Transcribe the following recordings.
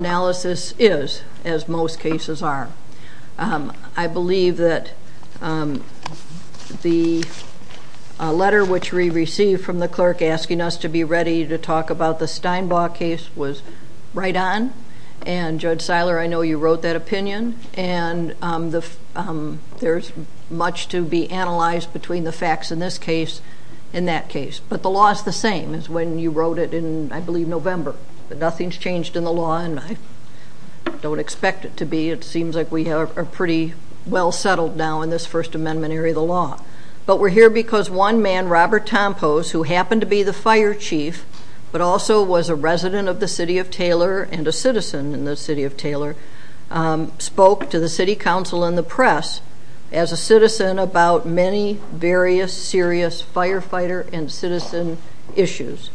analysis is as most cases are. I believe that the letter which we received from the clerk asking us to be ready to talk about the Steinbaugh case was right on and Judge Seiler I know you wrote that opinion and there's much to be analyzed between the facts in this case in that case but the law is the same as when you wrote it in I believe November but nothing's changed in the law and I don't expect it to be it seems like we are pretty well settled now in this First Amendment area of the law but we're here because one man Robert Tompos who happened to be the fire chief but also was a resident of the City of Taylor and a citizen in the City of Taylor spoke to the City Council and the press as a citizen about many various serious firefighter and citizen issues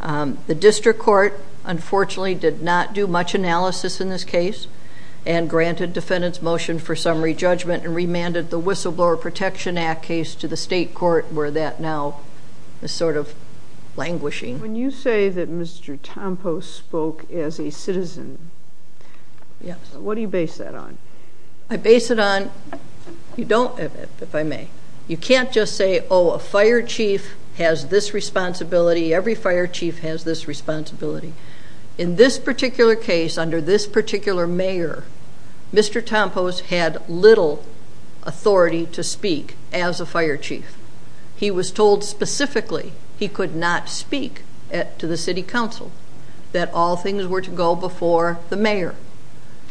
the district court unfortunately did not do much analysis in this case and granted defendants motion for summary judgment and remanded the whistleblower protection act case to the state court where that now is sort of languishing When you say that Mr. Tompos spoke as a citizen, what do you base that on? I base it on, you don't, if I may, you can't just say oh a fire chief has this responsibility every fire chief has this responsibility in this particular case under this particular mayor Mr. Tompos had little authority to speak as a fire chief he was told specifically he could not speak at to the City Council that all things were to go before the mayor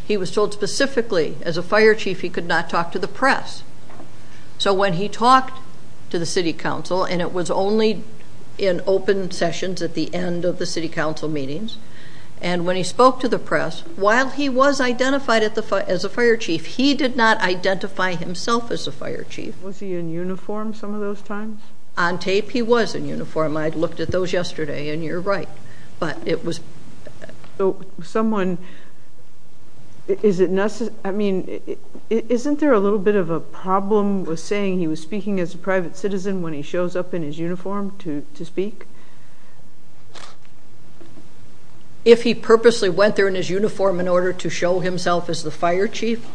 he was told specifically as a fire chief he could not talk to the press so when he talked to the City Council and it was only in open sessions at the end of the City Council meetings and when he spoke to the press while he was identified at the fire as a fire chief he did not identify himself as a fire chief. Was he in uniform some of those times? On tape he was in uniform I'd looked at those yesterday and you're right but it was. So someone, is it necessary, I mean isn't there a little bit of a problem with saying he was speaking as a private citizen when he shows up in his uniform to speak? If he purposely went there in his uniform in order to show himself as the fire chief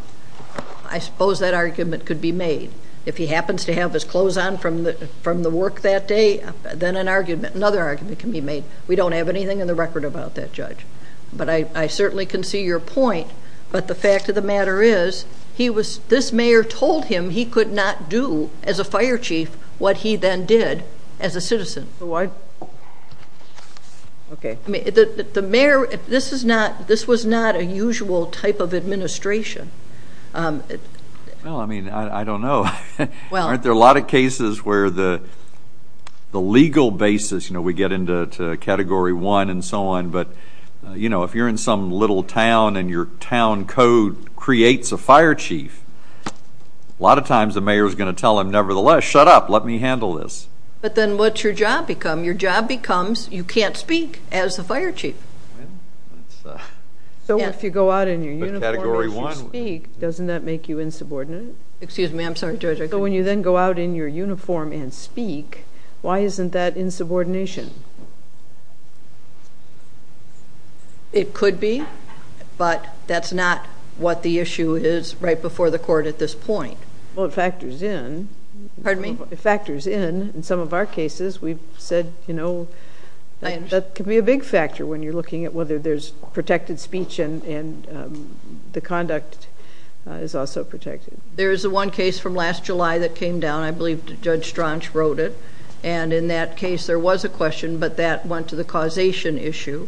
I suppose that argument could be made if he happens to have his clothes on from the from the work that day then an argument another argument can be made we don't have anything in the record about that judge but I certainly can see your point but the fact of the matter is he was this mayor told him he could not do as a fire chief what he then did as a citizen. Why? Okay the mayor this is not this was not a usual type of administration. Well I mean I don't know well aren't there a lot of cases where the the legal basis you know we get into category one and so on but you know if you're in some little town and your town code creates a fire chief a lot of times the mayor is going to tell him nevertheless shut up let me handle this. But then what's your job become your job becomes you can't speak as the fire chief. So if you go out in your uniform and speak doesn't that make you insubordinate? Excuse me I'm sorry. So when you then go out in your uniform and it could be but that's not what the issue is right before the court at this point. Well it factors in. Pardon me? It factors in in some of our cases we've said you know that could be a big factor when you're looking at whether there's protected speech and and the conduct is also protected. There is the one case from last July that came down I believe Judge Straunch wrote it and in that case there was a question but that went to the causation issue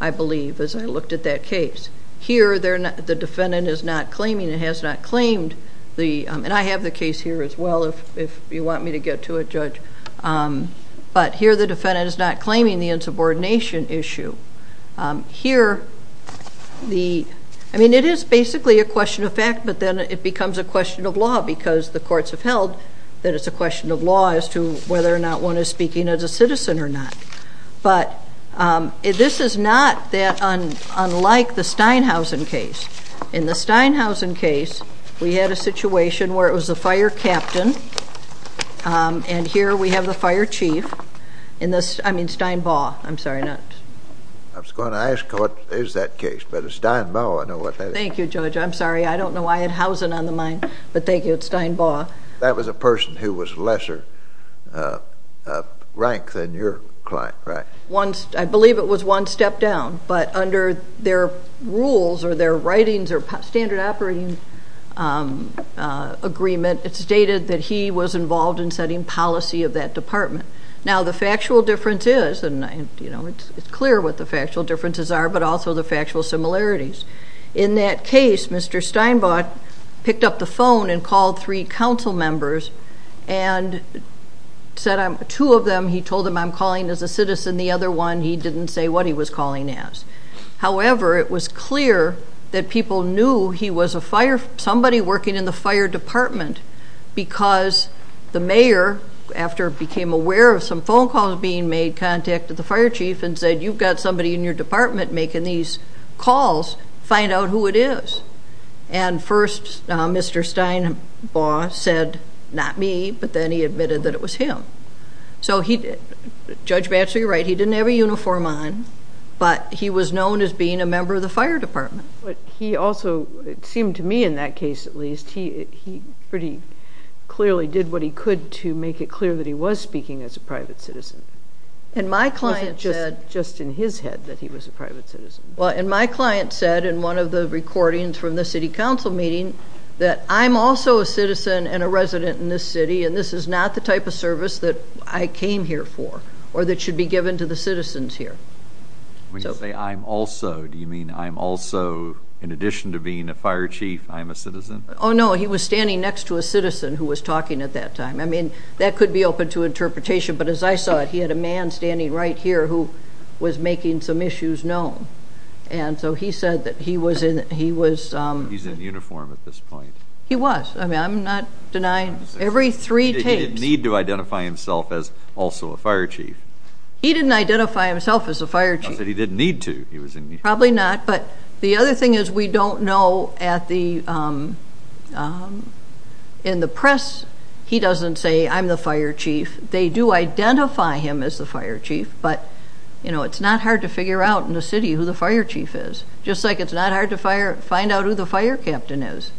I believe as I looked at that case. Here they're not the defendant is not claiming it has not claimed the and I have the case here as well if you want me to get to a judge but here the defendant is not claiming the insubordination issue. Here the I mean it is basically a question of fact but then it becomes a question of law because the courts have held that it's a question of law as to whether or not one is speaking as a citizen or not but this is not that unlike the Steinhausen case. In the Steinhausen case we had a situation where it was the fire captain and here we have the fire chief in this I mean Steinbaugh I'm sorry not. I was going to ask what is that case but it's Steinbaugh I know what that is. Thank you Judge I'm sorry I don't know why I had Hausen on the mind but thank you it's rank than your client right. Once I believe it was one step down but under their rules or their writings or standard operating agreement it stated that he was involved in setting policy of that department. Now the factual difference is and you know it's clear what the factual differences are but also the factual similarities. In that case Mr. Steinbaugh picked up the phone and called three council members and said I'm two of them he told him I'm calling as a citizen the other one he didn't say what he was calling as. However it was clear that people knew he was a fire somebody working in the fire department because the mayor after became aware of some phone calls being made contacted the fire chief and said you've got somebody in your department making these calls find out who it is. And first Mr. Steinbaugh said not me but then he admitted that it was him. So he did Judge Batchelor you're right he didn't have a uniform on but he was known as being a member of the fire department. But he also it seemed to me in that case at least he pretty clearly did what he could to make it clear that he was speaking as a private citizen. And client just just in his head that he was a private citizen. Well and my client said in one of the recordings from the City Council meeting that I'm also a citizen and a resident in this city and this is not the type of service that I came here for or that should be given to the citizens here. When you say I'm also do you mean I'm also in addition to being a fire chief I'm a citizen? Oh no he was standing next to a citizen who was talking at that time I mean that could be open to interpretation but as I saw it he had a man standing right here who was making some issues known. And so he said that he was in he was. He's in uniform at this point. He was I mean I'm not denying every three tapes. He didn't need to identify himself as also a fire chief. He didn't identify himself as a fire chief. I said he didn't need to. Probably not but the other thing is we don't know at the in the press he doesn't say I'm the fire chief. They do identify him as the fire chief but you know it's not hard to figure out in the city who the fire chief is. Just like it's not hard to fire find out who the fire captain is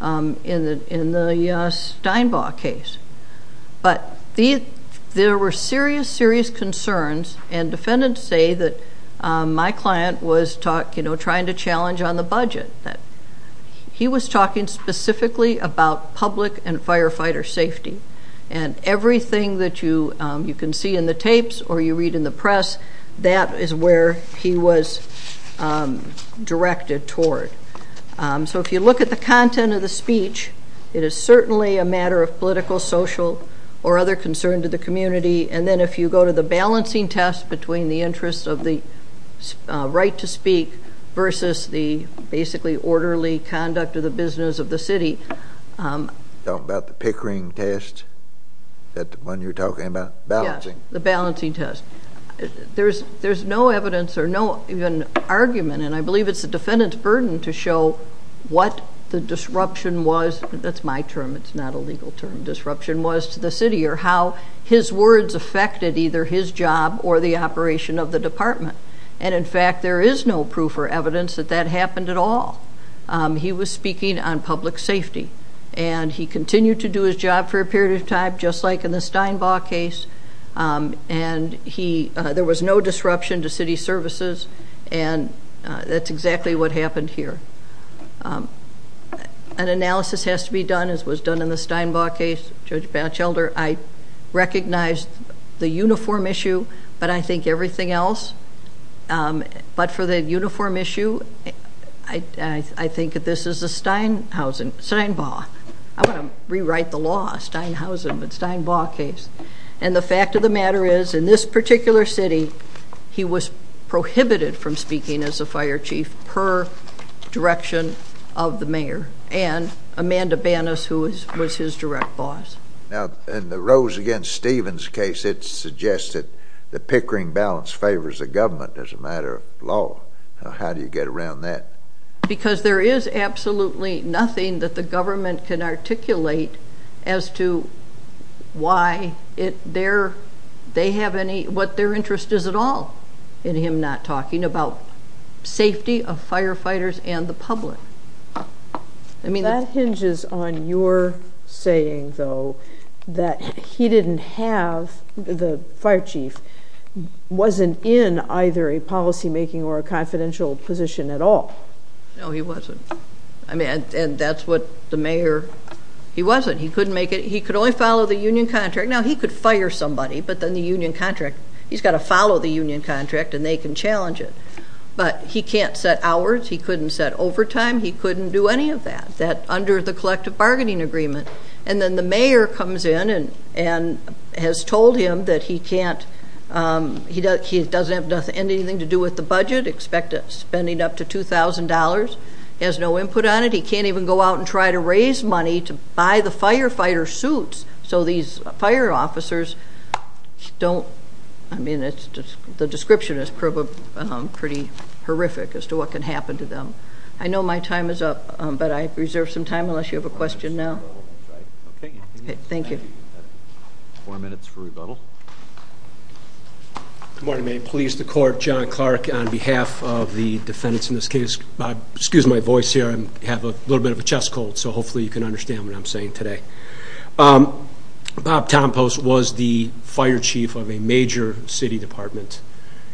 in the in the Steinbaugh case. But the there were serious serious concerns and defendants say that my client was talk you know trying to challenge on the budget that he was talking specifically about public and firefighter safety and everything that you you can see in the tapes or you read in the press that is where he was directed toward. So if you look at the content of the speech it is certainly a matter of political social or other concern to the community and then if you go to the balancing test between the interest of the right to basically orderly conduct of the business of the city. Talk about the Pickering test that when you're talking about balancing. The balancing test. There's there's no evidence or no even argument and I believe it's the defendant's burden to show what the disruption was. That's my term it's not a legal term. Disruption was to the city or how his words affected either his job or the operation of the department and in fact there is no proof or evidence that that happened at all. He was speaking on public safety and he continued to do his job for a period of time just like in the Steinbaugh case and he there was no disruption to city services and that's exactly what happened here. An analysis has to be done as was done in the Steinbaugh case. Judge Batchelder I recognized the uniform issue but I think everything else but for the uniform issue I think that this is a Steinhausen, Steinbaugh. I want to rewrite the law Steinhausen but Steinbaugh case and the fact of the matter is in this particular city he was prohibited from speaking as a fire chief per direction of the mayor and Amanda Banas who was his direct boss. Now in the Rose against Stevens case it suggested the Pickering balanced favors the government as a matter of law. Now how do you get around that? Because there is absolutely nothing that the government can articulate as to why it there they have any what their interest is at all in him not talking about safety of firefighters and the public. I mean that hinges on your saying though that he didn't have the fire chief wasn't in either a policymaking or a confidential position at all. No he wasn't I mean and that's what the mayor he wasn't he couldn't make it he could only follow the union contract now he could fire somebody but then the union contract he's got to follow the union contract and they can challenge it but he can't set hours he couldn't set overtime he couldn't do any of that that under the collective bargaining agreement and then the mayor comes in and and has told him that he can't he does he doesn't have nothing anything to do with the budget expect it spending up to $2,000 has no input on it he can't even go out and try to raise money to buy the firefighter suits so these fire officers don't I mean it's just the description is pretty horrific as to what can happen to them. I know my time is up but I reserve some time unless you have a question now. Thank you. Four minutes for rebuttal. Good morning police the court John Clark on behalf of the defendants in this case excuse my voice here and have a little bit of a chest cold so hopefully you can understand what I'm saying today. Bob Tompos was the fire chief of a major city department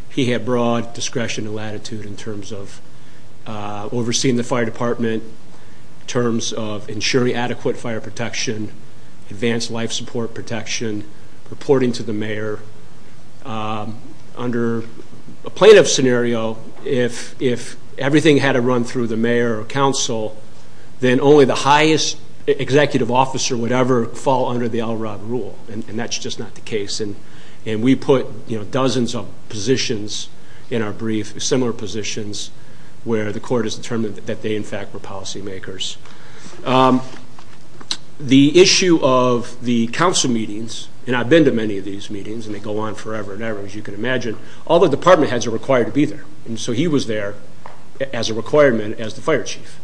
he had broad discretion and latitude in overseeing the fire department in terms of ensuring adequate fire protection advanced life support protection reporting to the mayor under a plaintiff scenario if if everything had a run through the mayor or council then only the highest executive officer would ever fall under the Elrod rule and that's just not the case and and we put you know dozens of positions in our brief similar positions where the court has determined that they in fact were policymakers. The issue of the council meetings and I've been to many of these meetings and they go on forever and ever as you can imagine all the department heads are required to be there and so he was there as a requirement as the fire chief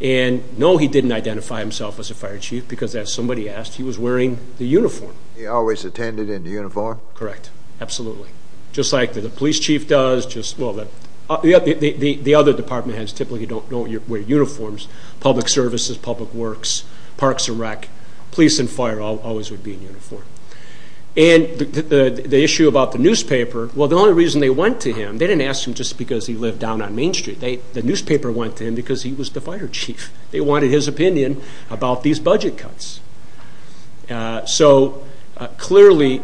and no he didn't identify himself as a fire chief because as somebody asked he was wearing the uniform. He always attended in the uniform? Correct absolutely just like that the police chief does just well that the other department heads typically don't don't wear uniforms public services public works parks and rec police and fire always would be in uniform and the issue about the newspaper well the only reason they went to him they didn't ask him just because he lived down on Main Street they the newspaper went to him because he was the fire chief they wanted his opinion about these budget cuts so clearly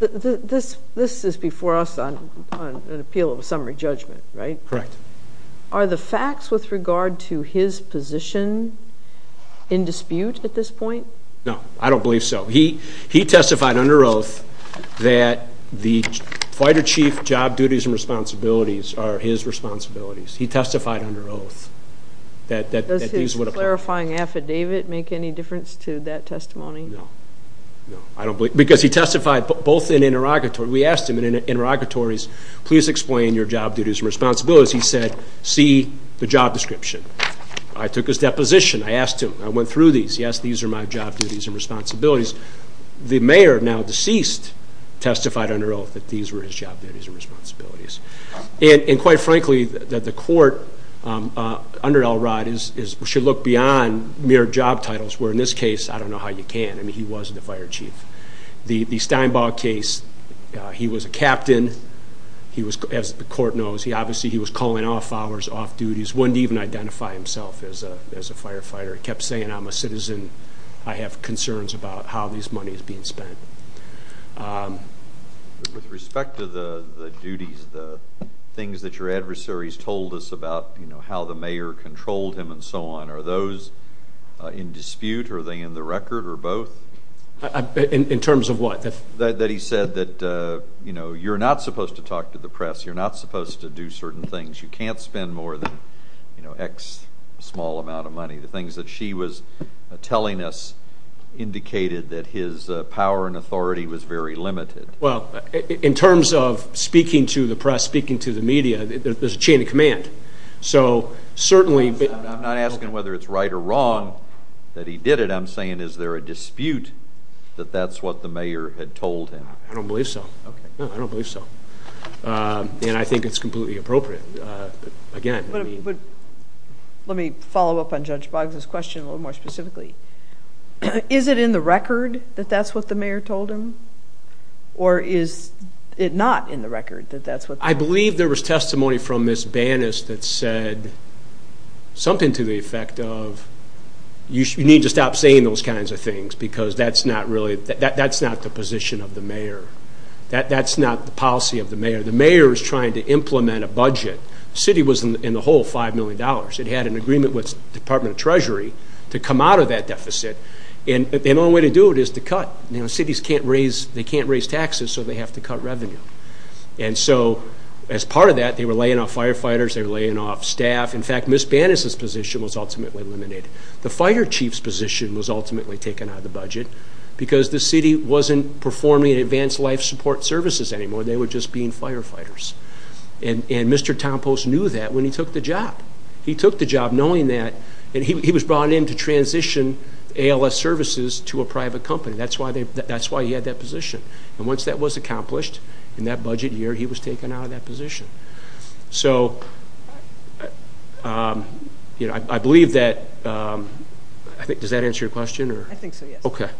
this this is before us on an appeal of a summary judgment right correct are the facts with regard to his position in dispute at this point no I don't believe so he he testified under oath that the fighter chief job duties and responsibilities are his responsibilities he testified under oath that clarifying affidavit make any difference to that testimony I don't believe because he testified both in interrogatory we asked him in interrogatories please explain your job duties responsibilities he said see the job description I took his deposition I asked him I went through these yes these are my job duties and responsibilities the mayor now deceased testified under oath that these were his job duties and responsibilities and quite frankly that the court under Elrod is should look beyond mere job titles were in this case I don't know how you can I mean he wasn't a fire chief the Steinbaugh case he was a captain he was as the court knows he obviously he was calling off hours off duties wouldn't even identify himself as a as a firefighter he kept saying I'm a citizen I have concerns about how these money is being spent with respect to the duties the things that your adversaries told us about you know how the mayor controlled him and so on are those in dispute are they in the record or both in terms of what that he said that you know you're not supposed to talk to the press you're not supposed to do certain things you can't spend more than you know X small amount of money the things that she was telling us indicated that his power and authority was very limited well in terms of speaking to the press speaking to the media there's a chain of command so certainly but I'm not asking whether it's right or wrong that he did it I'm saying is there a dispute that that's what the mayor had told him I don't believe so I don't believe so and I think it's completely appropriate again let me follow up on judge Boggs this question a little more specifically is it in the record that that's what the mayor told him or is it not in the record that that's what I believe there was testimony from this bannist that said something to the effect of you should need to stop saying those kinds of things because that's not really that that's not the position of the mayor that that's not the policy of the mayor the mayor is trying to implement a whole five million dollars it had an agreement with Department of Treasury to come out of that deficit and the only way to do it is to cut you know cities can't raise they can't raise taxes so they have to cut revenue and so as part of that they were laying off firefighters they're laying off staff in fact miss Bannis's position was ultimately eliminated the fire chief's position was ultimately taken out of the budget because the city wasn't performing advanced life support services anymore they were just being firefighters and and mr. Tom post knew that when he took the job he took the job knowing that and he was brought in to transition ALS services to a private company that's why they that's why he had that position and once that was accomplished in that budget year he was taken out of that position so you know I believe that I think does that answer your question or okay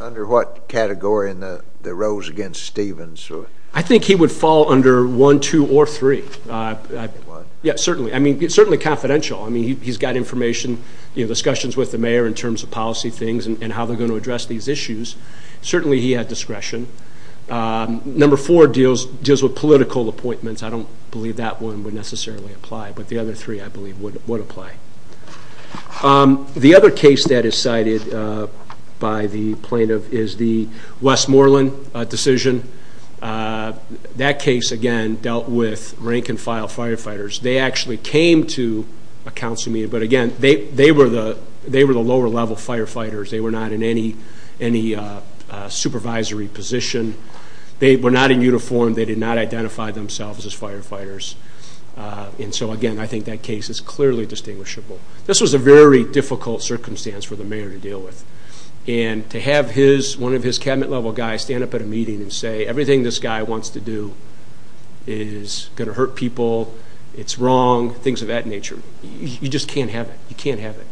under what category in the rows against Stevens I think he would fall under one two or three yeah certainly I mean it's certainly confidential I mean he's got information you know discussions with the mayor in terms of policy things and how they're going to address these issues certainly he had discretion number four deals deals with political appointments I don't believe that one would necessarily apply but the other three I believe would apply the other case that is cited by the plaintiff is the Westmoreland decision that case again dealt with rank-and-file firefighters they actually came to a council meeting but again they they were the they were the lower-level firefighters they were not in any any supervisory position they were not in uniform they did not identify themselves as firefighters and so again I think that clearly distinguishable this was a very difficult circumstance for the mayor to deal with and to have his one of his cabinet level guys stand up at a meeting and say everything this guy wants to do is gonna hurt people it's wrong things of that nature you just can't have it you can't have it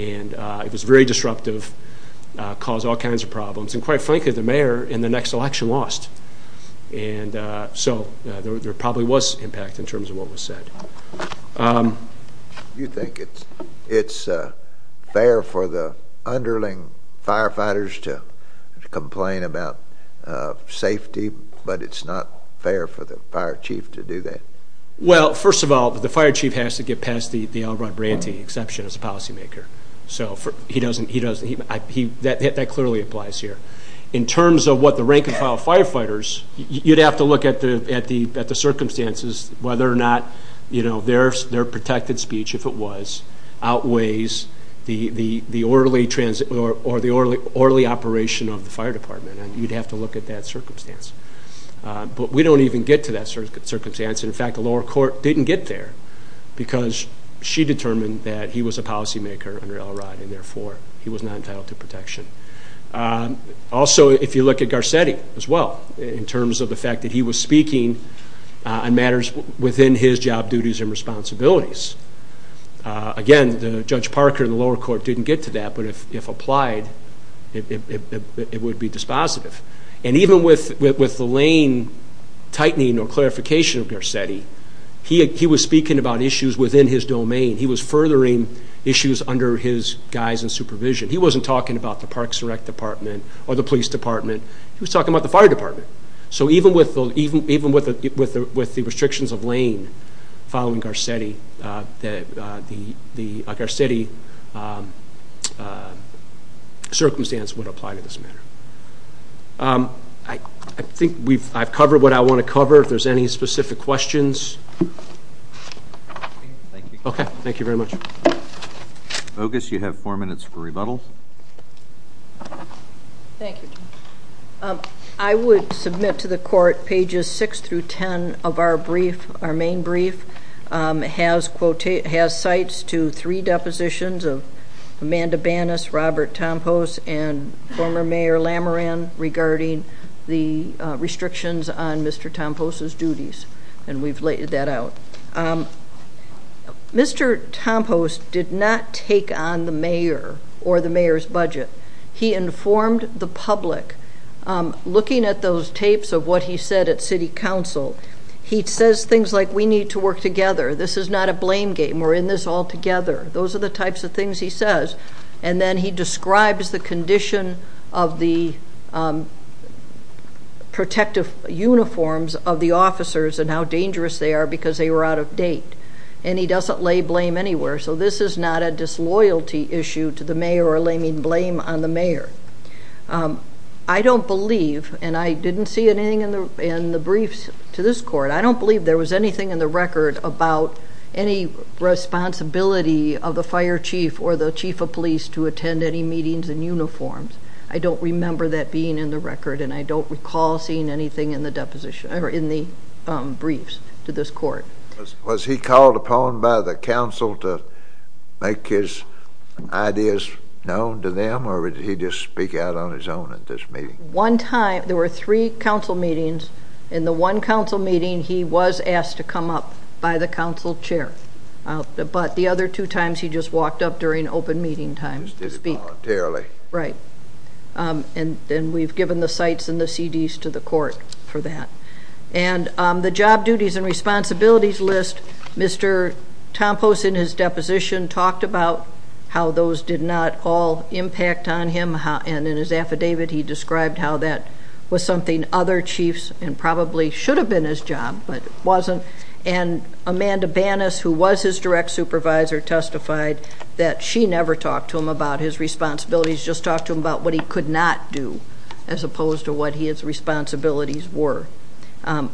and it was very disruptive cause all kinds of problems and quite frankly the mayor in the next election lost and so there probably was impact in terms of what was said. You think it's it's fair for the underling firefighters to complain about safety but it's not fair for the fire chief to do that? Well first of all the fire chief has to get past the Alrod Branty exception as a policymaker so for he doesn't he that clearly applies here in terms of what the rank-and-file firefighters you'd have to look at the at the at the circumstances whether or not you know there's their protected speech if it was outweighs the the the orderly transit or the orderly operation of the fire department and you'd have to look at that circumstance but we don't even get to that sort of circumstance in fact the lower court didn't get there because she determined that he was a he was not entitled to protection. Also if you look at Garcetti as well in terms of the fact that he was speaking on matters within his job duties and responsibilities again the judge Parker the lower court didn't get to that but if if applied it would be dispositive and even with with the lane tightening or clarification of Garcetti he was speaking about issues within his domain he was furthering issues under his guise and supervision he wasn't talking about the parks direct department or the police department he was talking about the fire department so even with the even even with the with the with the restrictions of lane following Garcetti that the the Garcetti circumstance would apply to this matter. I think we've I've covered what I want to cover if there's any specific questions. Okay thank you very much. Bogus you have four minutes for rebuttals. I would submit to the court pages six through ten of our brief our main brief has quotes it has sites to three depositions of Amanda Bannis, Robert Tompos and former mayor Lamaran regarding the restrictions on Mr. Tompos's duties and we've laid that out. Mr. Tompos did not take on the mayor or the mayor's budget he informed the public looking at those tapes of what he said at City Council he says things like we need to work together this is not a blame game we're in this all together those are the types of things he says and then he describes the condition of the protective uniforms of the officers and how dangerous they are because they were out of date and he doesn't lay blame anywhere so this is not a disloyalty issue to the mayor or laming blame on the mayor. I don't believe and I didn't see anything in the in the briefs to this court I don't believe there was anything in the record about any responsibility of the fire chief or the member that being in the record and I don't recall seeing anything in the deposition or in the briefs to this court. Was he called upon by the council to make his ideas known to them or did he just speak out on his own at this meeting? One time there were three council meetings in the one council meeting he was asked to come up by the council chair but the other two times he just walked up during open meeting time to speak voluntarily. Right and then we've given the sites and the CDs to the court for that and the job duties and responsibilities list Mr. Tompos in his deposition talked about how those did not all impact on him how and in his affidavit he described how that was something other chiefs and probably should have been his job but it wasn't and Amanda Banas who was his direct supervisor testified that she never talked to him about his responsibilities just talked to him about what he could not do as opposed to what his responsibilities were.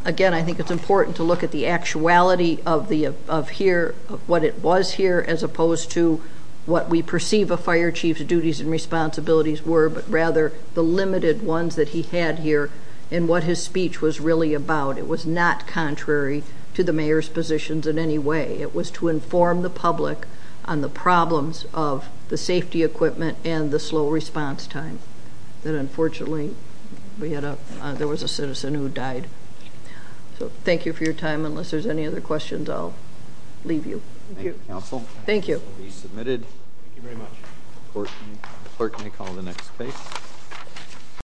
Again I think it's important to look at the actuality of the of here what it was here as opposed to what we perceive a fire chief's duties and responsibilities were but rather the limited ones that he had here and what his speech was really about it was not contrary to the mayor's positions in any way it was to inform the public on the problems of the safety equipment and the slow response time that unfortunately we had a there was a citizen who died. So thank you for your time unless there's any other questions I'll leave you. Thank you.